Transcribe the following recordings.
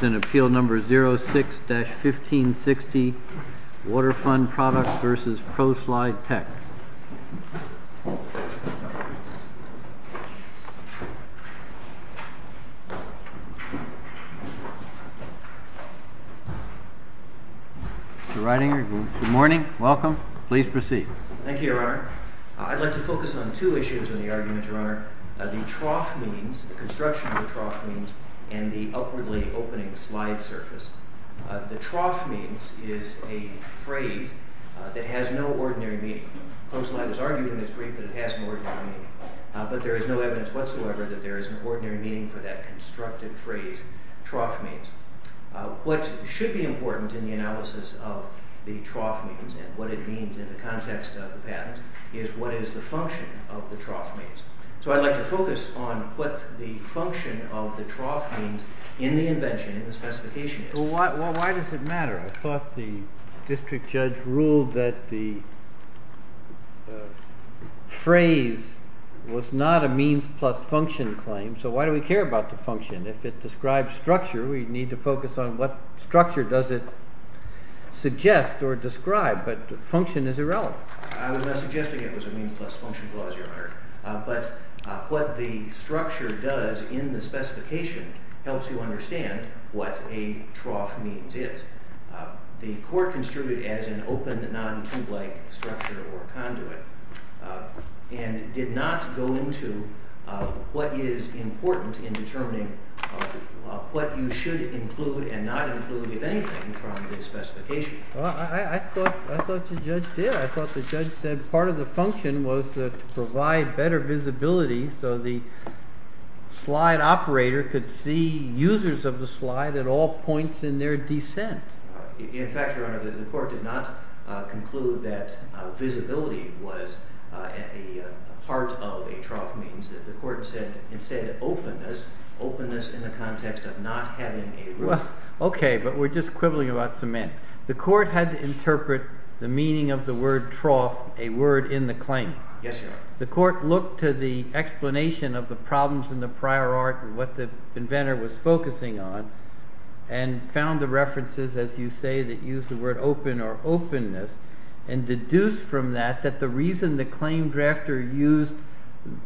The writing, good morning, welcome. Please proceed. Thank you, Your Honor. I'd like to focus on two issues in the argument, Your Honor. The trough means, construction of the trough means, and the upwardly opening slide surface. The trough means is a phrase that has no ordinary meaning. Proslide has argued in its brief that it has no ordinary meaning, but there is no evidence whatsoever that there is an ordinary meaning for that constructed phrase, trough means. What should be important in the analysis of the trough means and what it means in the context of the patent is what is the function of the trough means. So I'd like to focus on what the function of the trough means in the invention, in the specification is. Well, why does it matter? I thought the district judge ruled that the phrase was not a means plus function claim, so why do we care about the function? If it describes structure, we need to focus on what structure does it suggest or describe, but function is irrelevant. I was not suggesting it was a means plus function clause, Your Honor, but what the structure does in the specification helps you understand what a trough means is. The court construed it as an open, non-tube-like structure or conduit and did not go into what is important in determining what you should include and not include, if anything, from the specification. I thought the judge did. I thought the judge said part of the function was to provide better visibility so the slide operator could see users of the slide at all points in their descent. In fact, Your Honor, the court did not conclude that visibility was a part of a trough means. The court said instead openness, openness in the context of not having a roof. Okay, but we're just quibbling about cement. The court had to interpret the meaning of the word trough, a word in the claim. Yes, Your Honor. The court looked to the explanation of the problems in the prior art and what the inventor was focusing on and found the references, as you say, that use the word open or openness and deduced from that that the reason the claim drafter used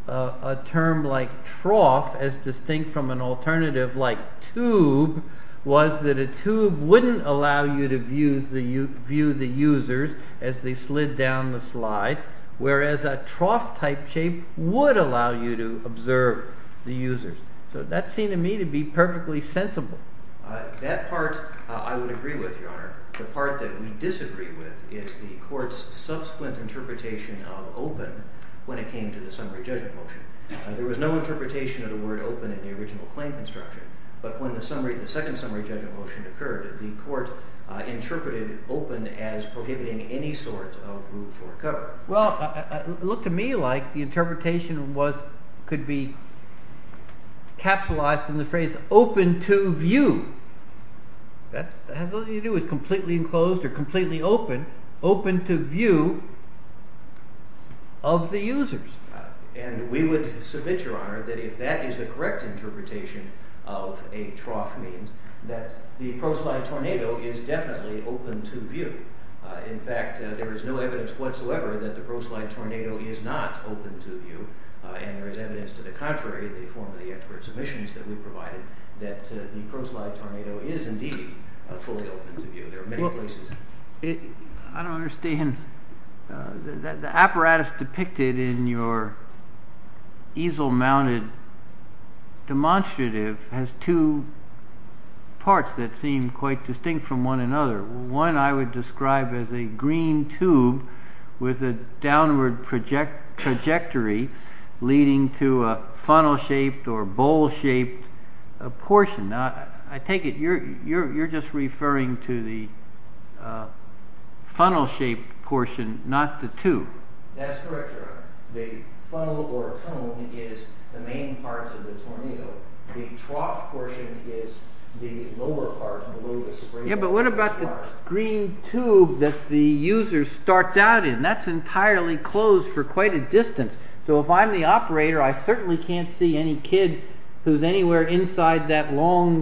a term like trough as distinct from an alternative like tube was that a tube wouldn't allow you to view the users as they slid down the slide, whereas a trough-type shape would allow you to observe the users. So that seemed to me to be perfectly sensible. That part I would agree with, Your Honor. The part that we disagree with is the court's subsequent interpretation of open when it But when the second summary judgment motion occurred, the court interpreted open as prohibiting any sort of roof or cover. Well, it looked to me like the interpretation could be capsulized in the phrase open to view. That has nothing to do with completely enclosed or completely open, open to view of the users. And we would submit, Your Honor, that if that is the correct interpretation of a trough means that the ProSlide Tornado is definitely open to view. In fact, there is no evidence whatsoever that the ProSlide Tornado is not open to view, and there is evidence to the contrary in the form of the expert submissions that we provided that the ProSlide Tornado is indeed fully open to view. There are many places. I don't understand. The apparatus depicted in your easel-mounted demonstrative has two parts that seem quite distinct from one another. One I would describe as a green tube with a downward trajectory leading to a funnel-shaped or bowl-shaped portion. I take it you're just referring to the funnel-shaped portion, not the tube. That's correct, Your Honor. The funnel or cone is the main part of the tornado. The trough portion is the lower part below the spring. But what about the green tube that the user starts out in? That's entirely closed for quite a distance. So if I'm the operator, I certainly can't see any kid who's anywhere inside that long,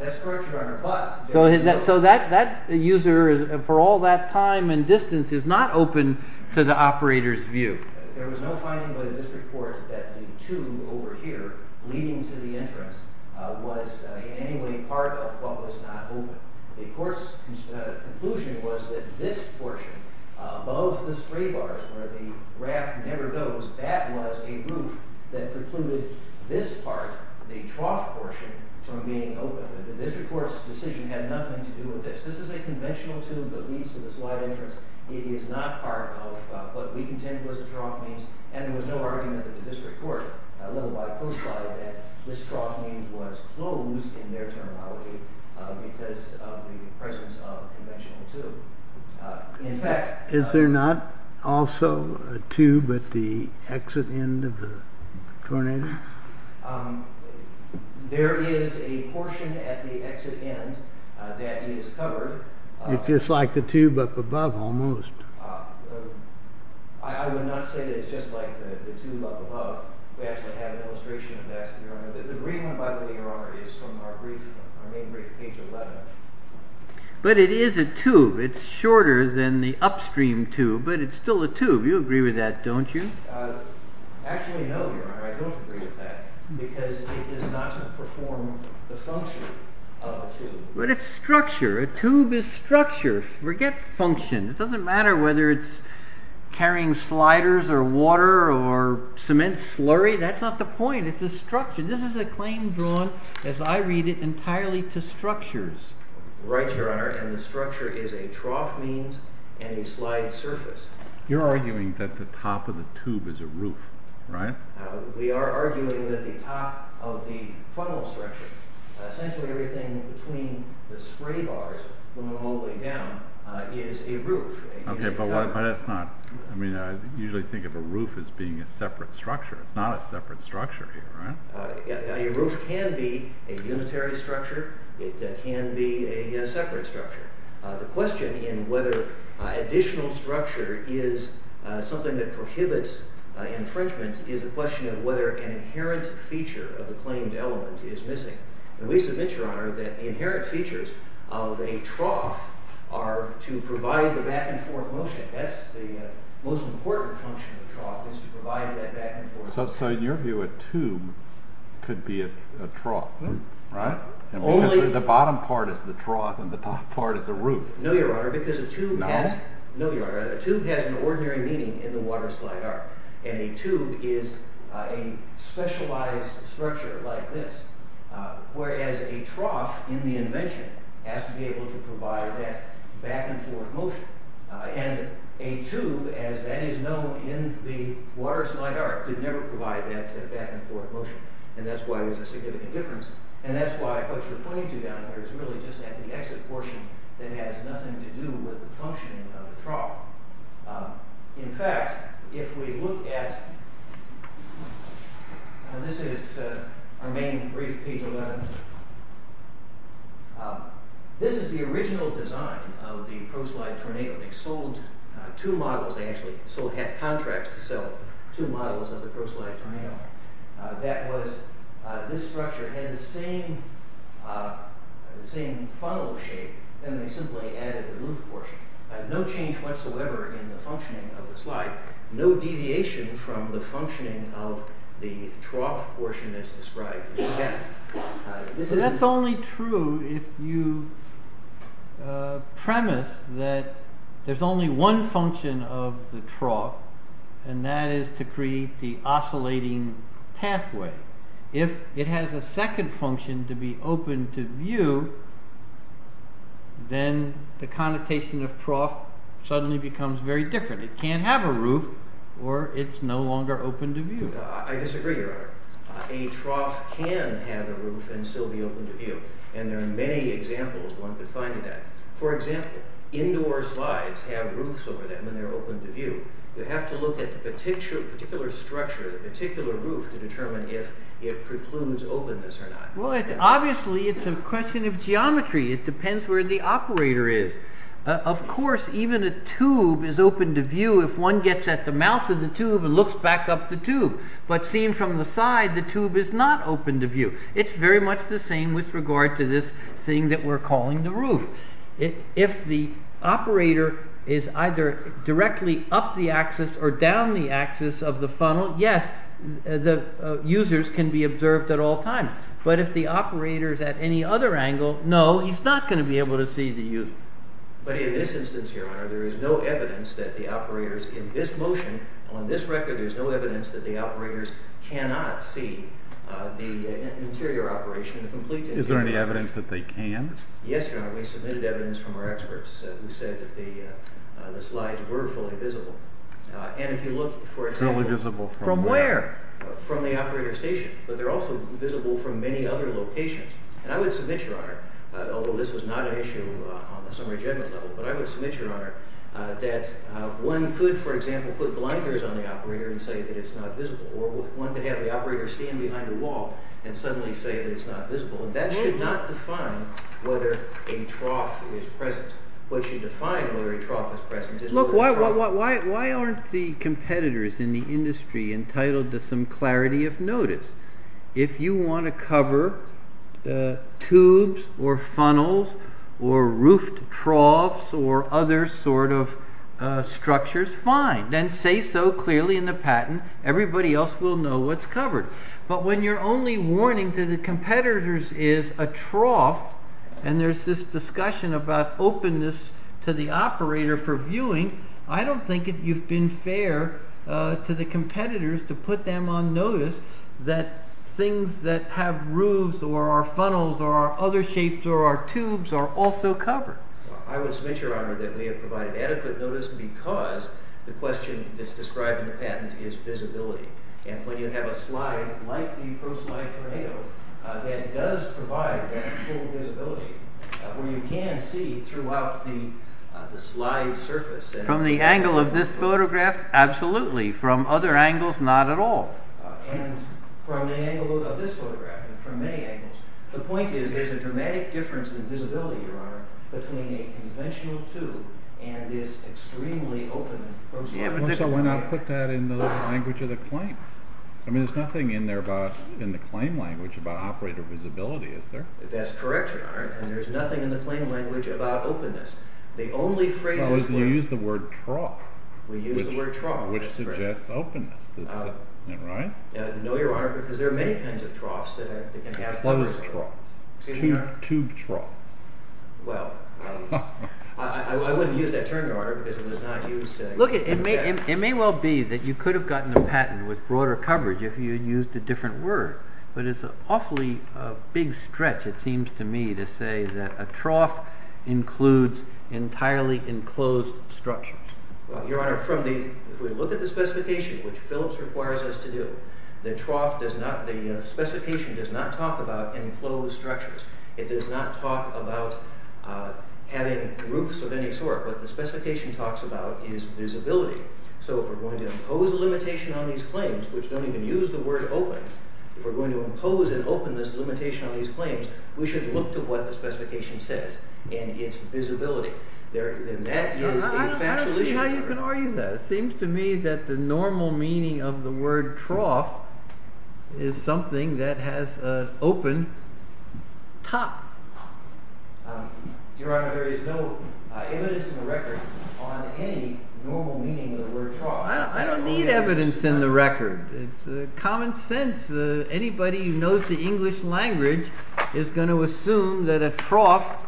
that's correct, Your Honor. So that user, for all that time and distance, is not open to the operator's view. There was no finding by the district court that the tube over here leading to the entrance was in any way part of what was not open. The court's conclusion was that this portion above the spray bars where the raft never goes, that was a roof that precluded this part, the trough portion, from being open. The district court's decision had nothing to do with this. This is a conventional tube that leads to the slide entrance. It is not part of what we contend was the trough means, and there was no argument that the district court, a little by coastline, that this trough means was closed in their terminology because of the presence of tornado. There is a portion at the exit end that is covered. It's just like the tube up above, almost. I would not say that it's just like the tube up above. We actually have an illustration of that, Your Honor. The green one, by the way, Your Honor, is from our brief, our main brief, page 11. But it is a tube. It's shorter than the upstream tube, but it's still a tube. You agree with that, don't you? Actually, no, Your Honor, I don't agree with that because it does not perform the function of a tube. But it's structure. A tube is structure. Forget function. It doesn't matter whether it's carrying sliders or water or cement slurry. That's not the point. It's a structure. This is a claim drawn, as I read it, entirely to structures. Right, Your Honor, and the structure is a trough means and a slide surface. You're arguing that the top of the tube is a roof, right? We are arguing that the top of the funnel structure, essentially everything between the spray bars going all the way down, is a roof. Okay, but why that's not, I mean, I usually think of a roof as being a separate structure. It's not a separate structure here, a roof can be a unitary structure. It can be a separate structure. The question in whether additional structure is something that prohibits infringement is a question of whether an inherent feature of the claimed element is missing. And we submit, Your Honor, that the inherent features of a trough are to provide the back and forth motion. That's the most important function of tube could be a trough, right? Only the bottom part is the trough and the top part is a roof. No, Your Honor, because a tube has an ordinary meaning in the water slide arc and a tube is a specialized structure like this, whereas a trough in the invention has to be able to provide that back and forth motion. And a tube, as that is known in the water slide arc, could never provide that back and forth motion. And that's why there's a significant difference. And that's why what you're pointing to down here is really just at the exit portion that has nothing to do with the functioning of the trough. In fact, if we look at, this is our main brief, page 11. This is the original design of the ProSlide Tornado. They sold two models, they actually sold, had contracts to sell two models of the ProSlide Tornado. That was, this structure had the same funnel shape, then they simply added the roof portion. No change whatsoever in the functioning of the slide, no deviation from the functioning of the trough portion that's described. That's only true if you premise that there's only one function of the trough, and that is to create the oscillating pathway. If it has a second function to be open to view, then the connotation of trough suddenly becomes very different. It can't have a roof, or it's no longer open to view. I disagree, your honor. A trough can have a roof and still be open to view, and there are many examples one could find of that. For example, indoor slides have roofs over them and they're open to view. You have to look at the particular structure, the particular roof, to determine if it precludes openness or not. Well, obviously, it's a question of geometry. It depends where the operator is. Of course, even a tube is open to view. If one gets at the mouth of the tube and looks back up the tube, but seen from the side, the tube is not open to view. It's very much the same with regard to this thing that we're calling the roof. If the operator is either directly up the axis or down the axis of the funnel, yes, the users can be observed at all times. But if the operator's at any other angle, no, he's not going to be able to see the user. But in this instance, your honor, there is no evidence that the operators in this motion, on this record, there's no evidence that the operators cannot see the interior operation, the complete interior operation. Is there any evidence that they can? Yes, your honor. We submitted evidence from our experts who said that the slides were fully visible. And if you look, for example... Fully visible from where? From the operator station. But they're also visible from many other locations. And I would submit, your honor, although this was not an issue on the summary judgment level, but I would submit, your honor, that one could, for example, put blinders on the operator and say that it's not visible. Or one could have the operator stand behind a wall and suddenly say that it's not visible. And that should not define whether a trough is present. What should define whether a trough is present is... Look, why aren't the competitors in the industry entitled to some clarity of notice? If you want to cover the tubes or funnels or roof troughs or other sort of structures, fine. Then say so clearly in the patent. Everybody else will know what's covered. But when your only warning to the competitors is a trough and there's this discussion about openness to the operator for viewing, I don't think you've been fair to the competitors to put them on notice that things that have roofs or funnels or other shapes or tubes are also covered. I would submit, your honor, that we have provided adequate notice because the question that's described in the patent is visibility. And when you have a slide like the ProSlide Tornado that does provide that full visibility where you can see throughout the slide surface. From the angle of this photograph? Absolutely. From other angles? Not at all. And from the angle of this photograph and from many angles, the point is there's a dramatic difference in visibility, your honor, between a conventional tube and this extremely open ProSlide Tornado. So why not put that in the language of the claim? I mean, there's nothing in there about in the claim language about operator visibility, is there? That's correct, your honor, and there's nothing in the claim language about openness. The only phrases... You use the word trough, which suggests openness, right? No, your honor, because there are many kinds of troughs. Tube troughs. Well, I wouldn't use that term, your honor, because it was not used... Look, it may well be that you could have gotten a patent with broader coverage if you used a different word, but it's an awfully big stretch, it seems to me, to say that a trough includes entirely enclosed structures. Well, your honor, from the... If we look at the specification, which Phillips requires us to do, the trough does not... The specification does not talk about enclosed structures. It does not talk about having roofs of any sort. What the specification talks about is visibility. So if we're going to impose a limitation on these claims, which don't even use the word open, if we're going to impose an openness limitation on these claims, we should look to what the specification says and its visibility. That is a factual issue. I don't see how you can argue that. It seems to me that the normal meaning of the word trough is something that has an open top. Your honor, there is no evidence in the record on any normal meaning of the word trough. I don't need evidence in the record. It's common sense. Anybody who knows the trough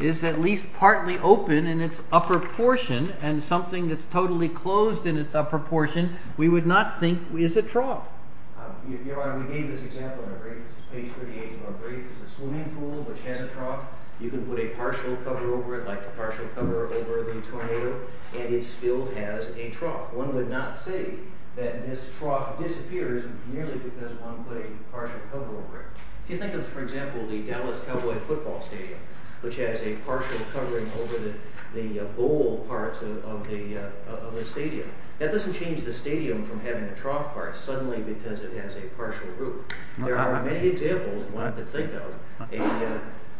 is at least partly open in its upper portion, and something that's totally closed in its upper portion, we would not think is a trough. Your honor, we gave this example in our brief. This is page 38 of our brief. It's a swimming pool, which has a trough. You can put a partial cover over it, like a partial cover over the tornado, and it still has a trough. One would not say that this trough disappears merely because one put a partial cover over it. If you think of, for example, the Dallas Cowboy football stadium, which has a partial covering over the bowl parts of the stadium, that doesn't change the stadium from having a trough part suddenly because it has a partial roof. There are many examples one could think of,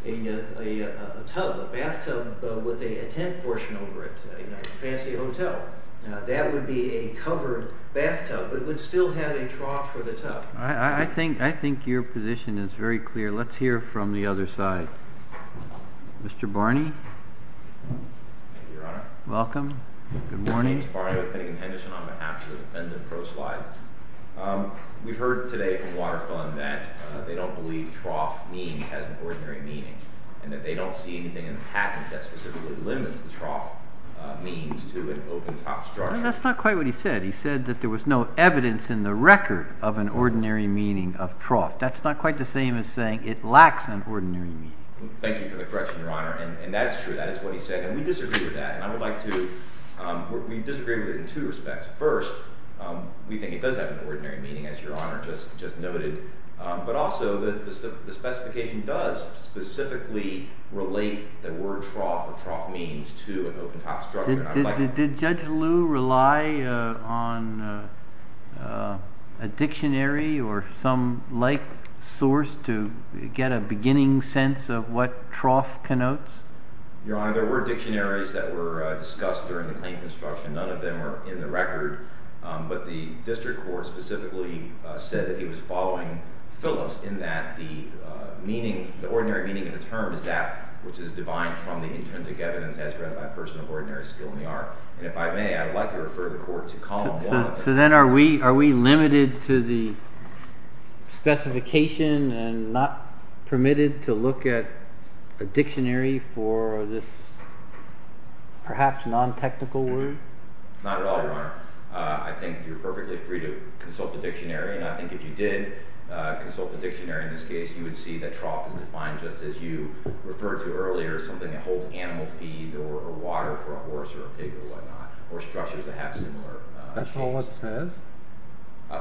a tub, a bathtub with a tent portion over it, a fancy hotel. That would be a covered bathtub, but it would still have a trough for the tub. I think your position is very clear. Let's hear from the other side. Mr. Barney. Thank you, your honor. Welcome. Good morning. James Barney with Pennington Henderson. I'm an actual defendant pro-slide. We've heard today from Waterfront that they don't believe trough means has an ordinary meaning, and that they don't see anything in the patent that specifically limits the trough means to an open top structure. That's not quite what he said. He said that there was no evidence in the record of an ordinary meaning of trough. That's not quite the same as saying it lacks an ordinary meaning. Thank you for the correction, your honor, and that's true. That is what he said, and we disagree with that, and I would like to, we disagree with it in two respects. First, we think it does have an ordinary meaning, as your honor just noted, but also that the specification does specifically relate the word trough or trough means to an open top structure. Did Judge Liu rely on a dictionary or some like source to get a beginning sense of what trough connotes? Your honor, there were dictionaries that were discussed during the claim construction. None of them are in the record, but the district court specifically said that it was following Phillips in that the meaning, the ordinary meaning of the term is that which is divine from the intrinsic evidence as read by a person of ordinary skill in the art, and if I may, I would like to refer the court to column one. So then are we, are we limited to the specification and not permitted to look at a dictionary for this perhaps non-technical word? Not at all, your honor. I think you're perfectly free to consult the dictionary, and I think if you did consult the dictionary in this case, you would see that trough is defined just as you referred to earlier, something that holds animal feed or water for a horse or a pig or whatnot, or structures that have similar. That's all it says?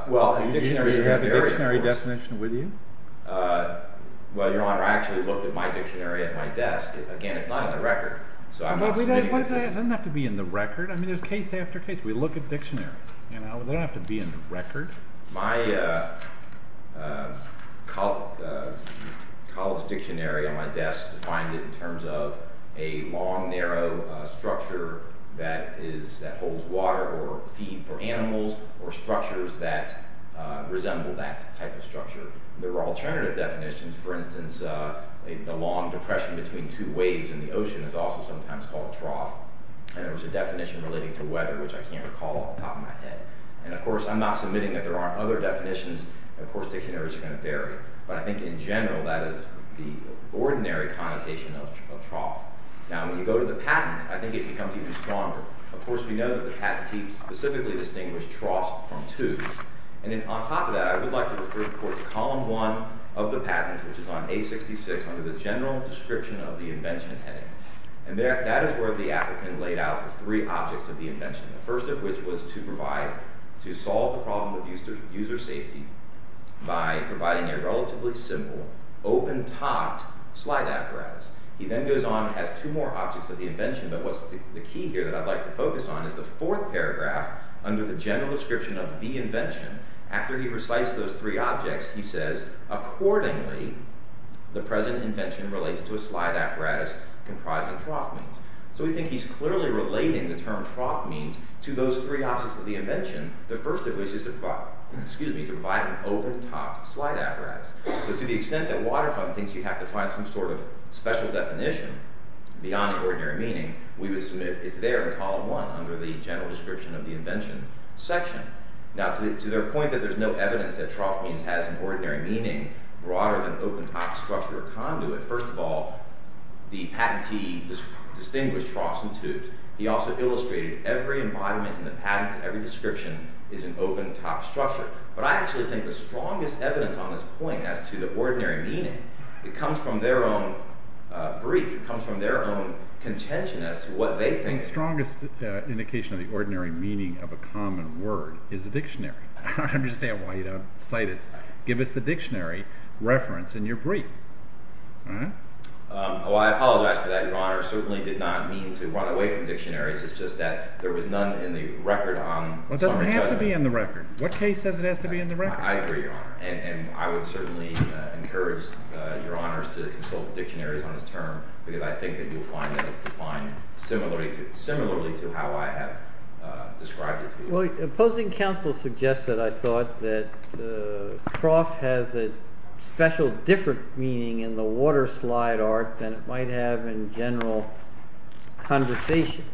Well, you have a dictionary definition with you? Well, your honor, I actually looked at my dictionary at my desk. Again, it's not on the record, so I'm not submitting it. It doesn't have to be in the record. I mean, there's case after case. We look at dictionaries, you know, they don't have to be in the record. My college dictionary on my desk defined it in terms of a long, narrow structure that is, that holds water or feed for animals or structures that resemble that type of structure. There are alternative definitions. For instance, the long depression between two waves in the ocean is also sometimes called trough, and there was a definition relating to weather, which I can't recall off the top of my head, and of course, I'm not submitting that there aren't other definitions. Of course, dictionaries are going to vary, but I think in general, that is the ordinary connotation of trough. Now, when you go to the patent, I think it becomes even stronger. Of course, we know that the patentee specifically distinguished troughs from tubes, and then on top of that, I would like to refer you, of course, to column one of the patent, which is on A66, under the general description of the invention heading, and that is where the applicant laid out the three objects of the invention, the first of which was to provide, to solve the problem of user safety by providing a relatively simple, open-topped slide apparatus. He then goes on and has two more objects of the invention, but what's the key here that I'd like to focus on is the fourth paragraph under the general description of the invention. After he recites those three objects, he says, accordingly, the present invention relates to a slide apparatus comprising trough means. So, we think he's clearly relating the term trough means to those three objects of the invention, the first of which is to provide, excuse me, to provide an open-topped slide apparatus. So, to the extent that Waterfront thinks you have to find some sort of special definition beyond the ordinary meaning, we would submit it's there in column one, under the general description of the invention section. Now, to their point that there's no evidence that trough means has an ordinary meaning broader than open-topped structure or conduit, first of all, the patentee distinguished troughs and tubes. He also illustrated every embodiment in the patent, every description is an open-topped structure, but I actually think the strongest evidence on this point as to the ordinary meaning, it comes from their own brief, it comes from their own contention as to what they think. The strongest indication of the ordinary meaning of a common word is a dictionary. I understand why you don't cite it. Give us the dictionary reference in your report. Well, I apologize for that, Your Honor. I certainly did not mean to run away from dictionaries. It's just that there was none in the record on. It doesn't have to be in the record. What case says it has to be in the record? I agree, Your Honor, and I would certainly encourage Your Honors to consult dictionaries on this term because I think that you'll find that it's defined similarly to how I have described it to you. Well, opposing counsel suggested, I thought, that trough has a special different meaning in the waterslide art than it might have in general conversation.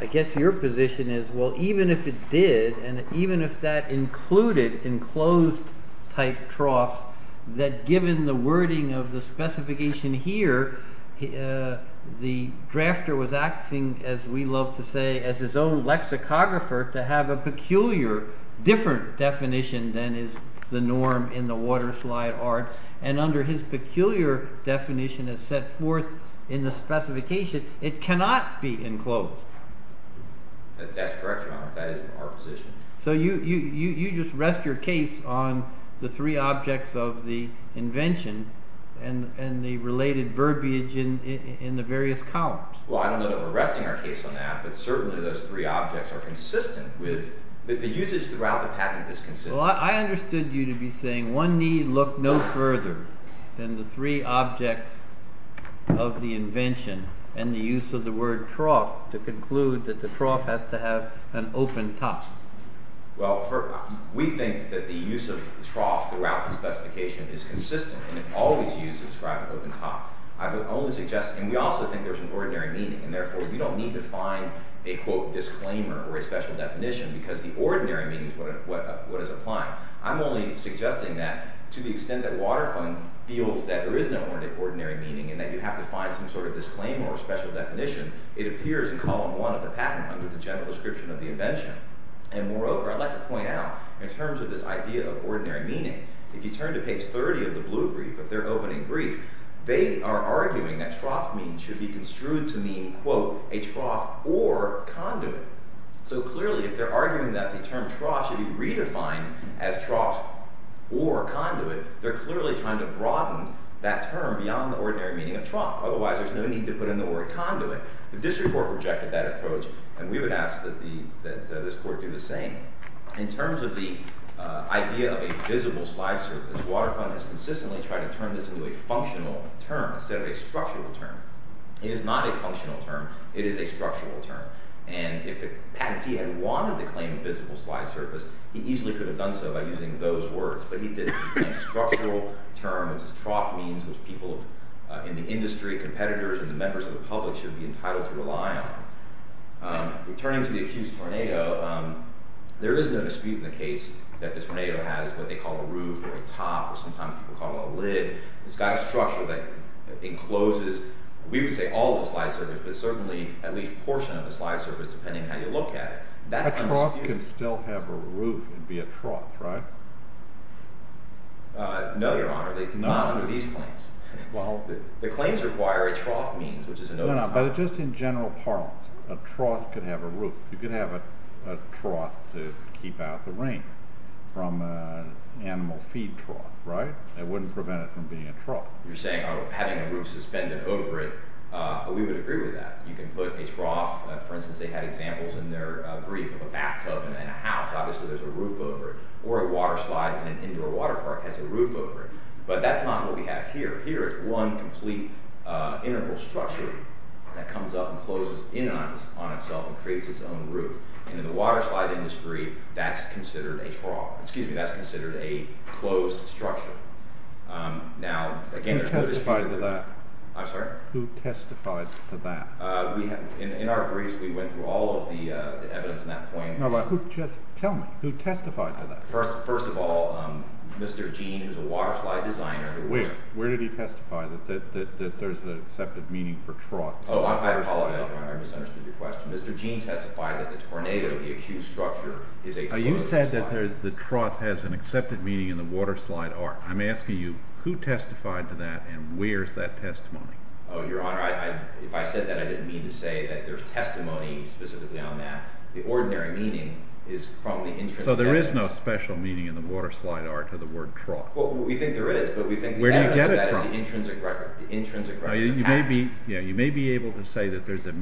I guess your position is, well, even if it did, and even if that included enclosed type troughs, that given the wording of the specification here, the drafter was acting, as we love to say, as his own lexicographer to have a peculiar, different definition than is the norm in the waterslide art, and under his peculiar definition as set forth in the specification, it cannot be enclosed. That's correct, Your Honor. That is our position. So you just rest your case on the three objects of the invention and the related verbiage in the various columns. Well, I don't know that we're resting our case on that, but certainly those three objects are consistent with the usage throughout the patent is consistent. Well, I understood you to be saying one need look no further than the three objects of the invention and the use of the word trough to conclude that the trough has to have an open top. Well, we think that the use of trough throughout the specification is consistent, and it's always used to describe an open top. I would only suggest, and we also think there's an ordinary meaning, and therefore you don't need to find a, quote, disclaimer or a special definition, because the ordinary meaning is what is applied. I'm only suggesting that to the extent that Waterfront feels that there is no ordinary meaning and that you have to find some sort of disclaimer or special definition, it appears in column one of the patent under the general description of the invention. And moreover, I'd like to point out, in terms of this idea of ordinary meaning, if you turn to page 30 of the blue brief, of their opening brief, they are arguing that trough means should be construed to mean, quote, a trough or conduit. So clearly, if they're arguing that the term trough should be redefined as trough or conduit, they're clearly trying to broaden that term beyond the ordinary meaning of trough. Otherwise, there's no need to put in the word conduit. The district court rejected that approach, and we would ask that this court do the same. In terms of the idea of a visible slide surface, Waterfront has consistently tried to turn this to a functional term instead of a structural term. It is not a functional term. It is a structural term. And if the patentee had wanted to claim a visible slide surface, he easily could have done so by using those words. But he didn't. He claimed a structural term, which is trough, means which people in the industry, competitors, and the members of the public should be entitled to rely on. Returning to the accused tornado, there is no dispute in the case that the tornado has what they call a roof, or a top, or sometimes people call it a lid. It's got a structure that encloses, we would say, all of the slide surface, but certainly at least a portion of the slide surface, depending on how you look at it. That's a dispute. A trough can still have a roof and be a trough, right? No, Your Honor, they do not under these claims. The claims require a trough means, which is another term. But just in general parlance, a trough could have a roof. You could have a trough to keep out the animal feed trough, right? It wouldn't prevent it from being a trough. You're saying, oh, having a roof suspended over it. We would agree with that. You can put a trough, for instance, they had examples in their brief of a bathtub and a house. Obviously, there's a roof over it. Or a water slide in an indoor water park has a roof over it. But that's not what we have here. Here is one complete integral structure that comes up and closes in on itself and creates its own roof. And in the water slide industry, that's considered a trough, excuse me, that's considered a closed structure. Now, again, Who testified to that? I'm sorry? Who testified to that? In our briefs, we went through all of the evidence in that point. Tell me, who testified to that? First of all, Mr. Gene, who's a water slide designer. Where did he testify that there's an accepted meaning for trough? Oh, I apologize, Your Honor, I misunderstood your question. Mr. Gene testified that the tornado, the accused structure, is a closed structure. The trough has an accepted meaning in the water slide art. I'm asking you, who testified to that and where's that testimony? Oh, Your Honor, if I said that, I didn't mean to say that there's testimony specifically on that. The ordinary meaning is from the intrinsic evidence. So there is no special meaning in the water slide art to the word trough? Well, we think there is, but we think that is the intrinsic record. The intrinsic record of the patent. Yeah, you may be able to say that there's a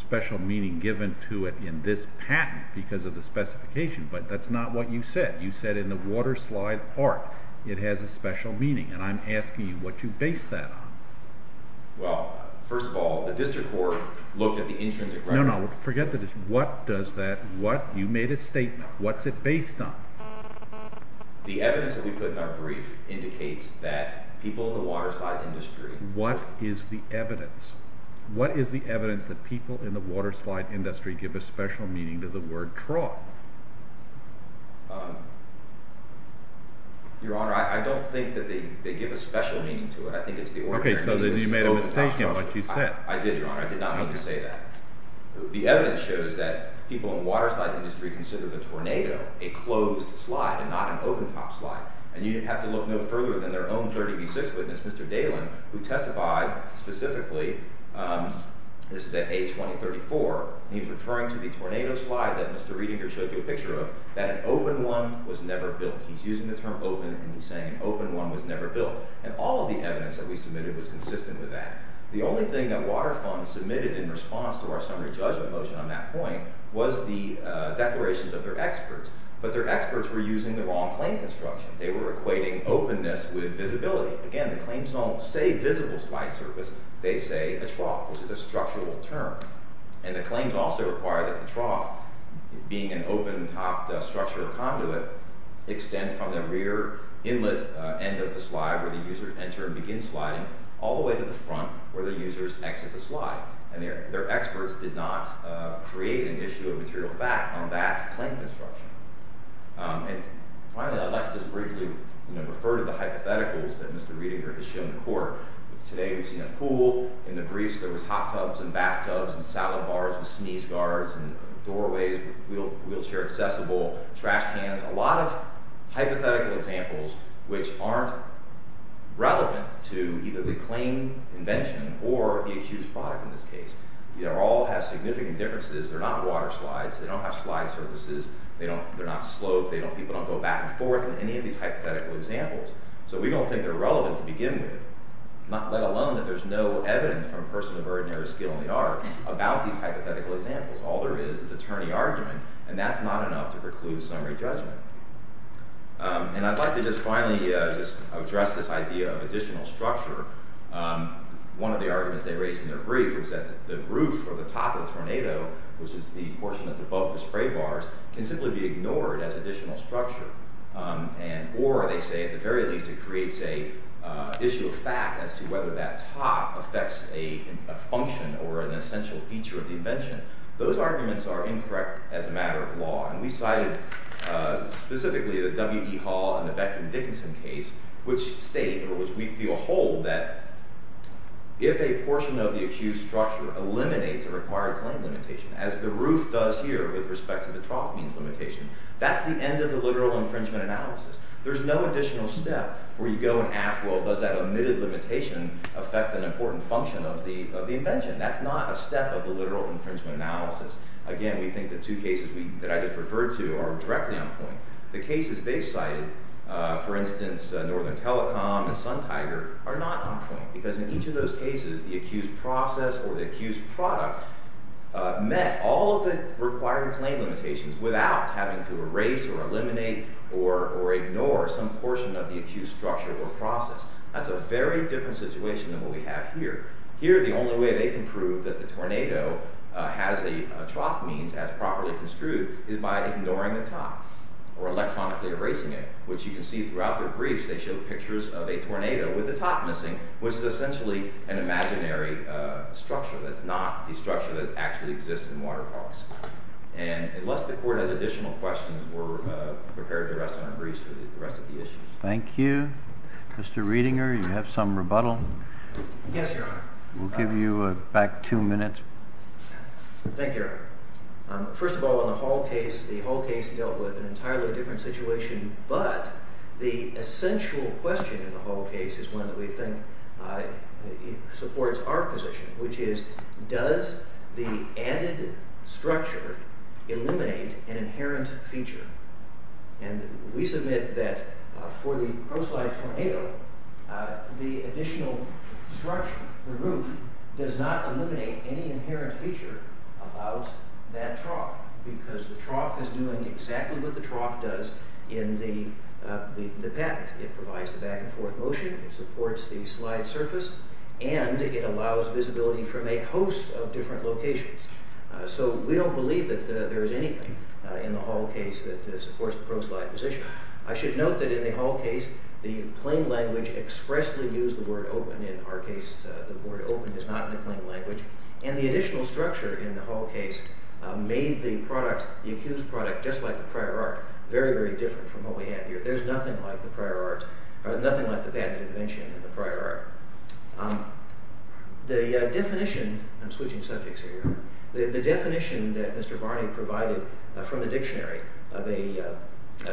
special meaning given to it in this patent because of the specification, but that's not what you said. You said in the water slide art, it has a special meaning, and I'm asking you, what do you base that on? Well, first of all, the district court looked at the intrinsic record. No, no, forget that. What does that, what, you made a statement. What's it based on? The evidence that we put in our brief indicates that people in the water slide industry... What is the evidence? What is the evidence that people in the water slide industry give a special meaning to the word trough? Your Honor, I don't think that they give a special meaning to it. I think it's the ordinary meaning. Okay, so then you made a mistake in what you said. I did, Your Honor. I did not mean to say that. The evidence shows that people in the water slide industry consider the tornado a closed slide and not an open-top slide, and you have to look no further than their own 30B6 witness, Mr. Dahlin, who testified specifically, this is at A2034, and he's referring to the tornado slide that Mr. Redinger showed you a picture of, that an open one was never built. He's using the term open and he's saying an open one was never built, and all of the evidence that we submitted was consistent with that. The only thing that water funds submitted in response to our summary judgment motion on that point was the declarations of their experts, but their experts were using the wrong construction. They were equating openness with visibility. Again, the claims don't say visible slide surface. They say a trough, which is a structural term, and the claims also require that the trough, being an open-topped structure or conduit, extend from the rear inlet end of the slide where the users enter and begin sliding all the way to the front where the users exit the slide, and their experts did not create an issue of material fact on that claim construction. And finally, I'd like to just briefly, you know, refer to the hypotheticals that Mr. Redinger has shown in court. Today we've seen a pool, in the grease there was hot tubs and bathtubs and salad bars with sneeze guards and doorways with wheelchair accessible, trash cans, a lot of hypothetical examples which aren't relevant to either the claim invention or the accused product in this case. They all have significant differences. They're not water slides. They don't have slide surfaces. They don't, they're not sloped. They don't, people don't go back and forth in any of these hypothetical examples, so we don't think they're relevant to begin with, let alone that there's no evidence from a person of ordinary skill in the art about these hypothetical examples. All there is is a tourney argument, and that's not enough to preclude summary judgment. And I'd like to just finally just address this idea of additional structure. One of the arguments they raised in their brief is that the roof or the top of the tornado, which is the portion that's above the spray bars, can simply be ignored as additional structure, and or they say at the very least it creates a issue of fact as to whether that top affects a function or an essential feature of the invention. Those arguments are incorrect as a matter of law, and we cited specifically the W.E. Hall and the Becton Dickinson case, which state or which we feel hold that if a portion of the structure eliminates a required claim limitation, as the roof does here with respect to the trough means limitation, that's the end of the literal infringement analysis. There's no additional step where you go and ask, well, does that omitted limitation affect an important function of the invention? That's not a step of the literal infringement analysis. Again, we think the two cases that I just referred to are directly on point. The cases they cited, for instance, Northern Telecom and Sun Tiger, are not on point because in each of those cases the accused process or the accused product met all of the required claim limitations without having to erase or eliminate or ignore some portion of the accused structure or process. That's a very different situation than what we have here. Here, the only way they can prove that the tornado has a trough means as properly construed is by ignoring the top or electronically erasing it, which you can see throughout their briefs. They show pictures of a tornado with the top missing, which is essentially an imaginary structure. That's not the structure that actually exists in water parks. Unless the court has additional questions, we're prepared to rest on our briefs for the rest of the issues. Thank you. Mr. Reidinger, you have some rebuttal? Yes, Your Honor. We'll give you back two minutes. Thank you, Your Honor. First of all, in the whole case, the whole case dealt with an entirely different situation, but the essential question in the whole case is one that we think supports our position, which is does the added structure eliminate an inherent feature? And we submit that for the ProSlide tornado, the additional structure, the roof does not eliminate any inherent feature about that trough because the trough is doing exactly what the trough does in the patent. It provides the back and forth motion, it supports the slide surface, and it allows visibility from a host of different locations. So we don't believe that there is anything in the whole case that supports the ProSlide position. I should note that in the whole case, the plain language expressly used the word open. In our case, the word open is not in the plain language. And the additional structure in the whole case made the product, the accused product, just like the prior art, very, very different from what we have here. There's nothing like the prior art, nothing like the patent invention in the prior art. The definition, I'm switching subjects here, the definition that Mr. Barney provided from the dictionary of a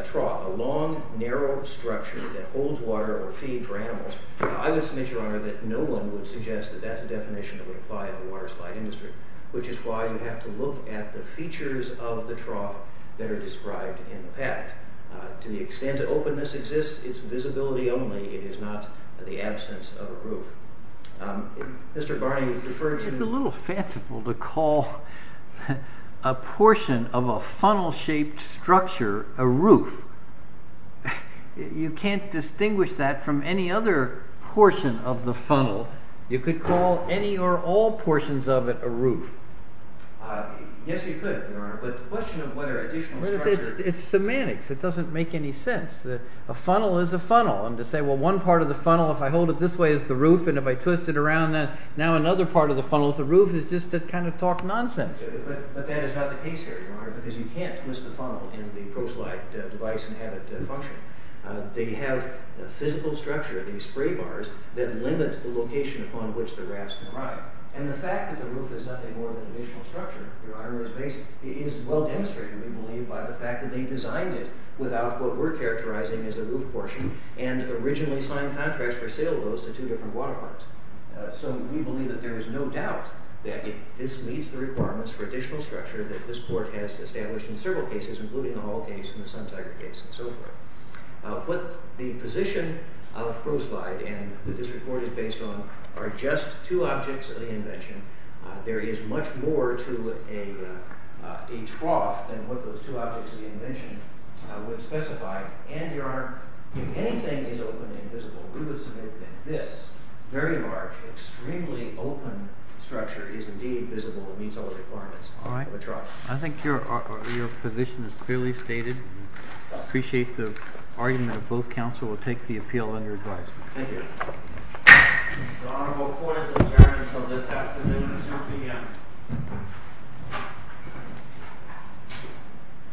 trough, a long, narrow structure that holds water or feed for animals, I would submit, Your Honor, that no one would suggest that that's a definition that would apply to the water slide industry, which is why you have to look at the features of the trough that are described in the patent. To the extent that openness exists, it's visibility only. It is not the absence of a roof. Mr. Barney referred to... It's a little fanciful to call a portion of a funnel-shaped structure a roof. You can't distinguish that from any other portion of the funnel. You could call any or all portions of it a roof. Yes, you could, Your Honor, but the question of whether additional structure... It's semantics. It doesn't make any sense. A funnel is a funnel. And to say, well, one part of the funnel, if I hold it this way, is the roof, and if I twist it around that, now another part of the funnel is the roof, is just to kind of talk nonsense. But that is not the case here, Your Honor, because you can't twist the funnel in the proslide device and have it function. They have a physical structure, these spray bars, that limit the location upon which the rafts can arrive. And the fact that the roof is nothing more than additional structure, Your Honor, is well demonstrated, we believe, by the fact that they designed it without what we're characterizing as a roof portion and originally signed contracts for sale of those to two different water parks. So we believe that there is no doubt that this meets the requirements for additional structure that this court has established in the Sun Tiger case and so forth. What the position of proslide and the district court is based on are just two objects of the invention. There is much more to a trough than what those two objects of the invention would specify. And, Your Honor, if anything is open and visible, we would submit that this very large, extremely open structure is indeed visible and meets all the requirements of a trough. I think your position is clearly stated. I appreciate the argument of both counsel. We'll take the appeal under advisement. Thank you.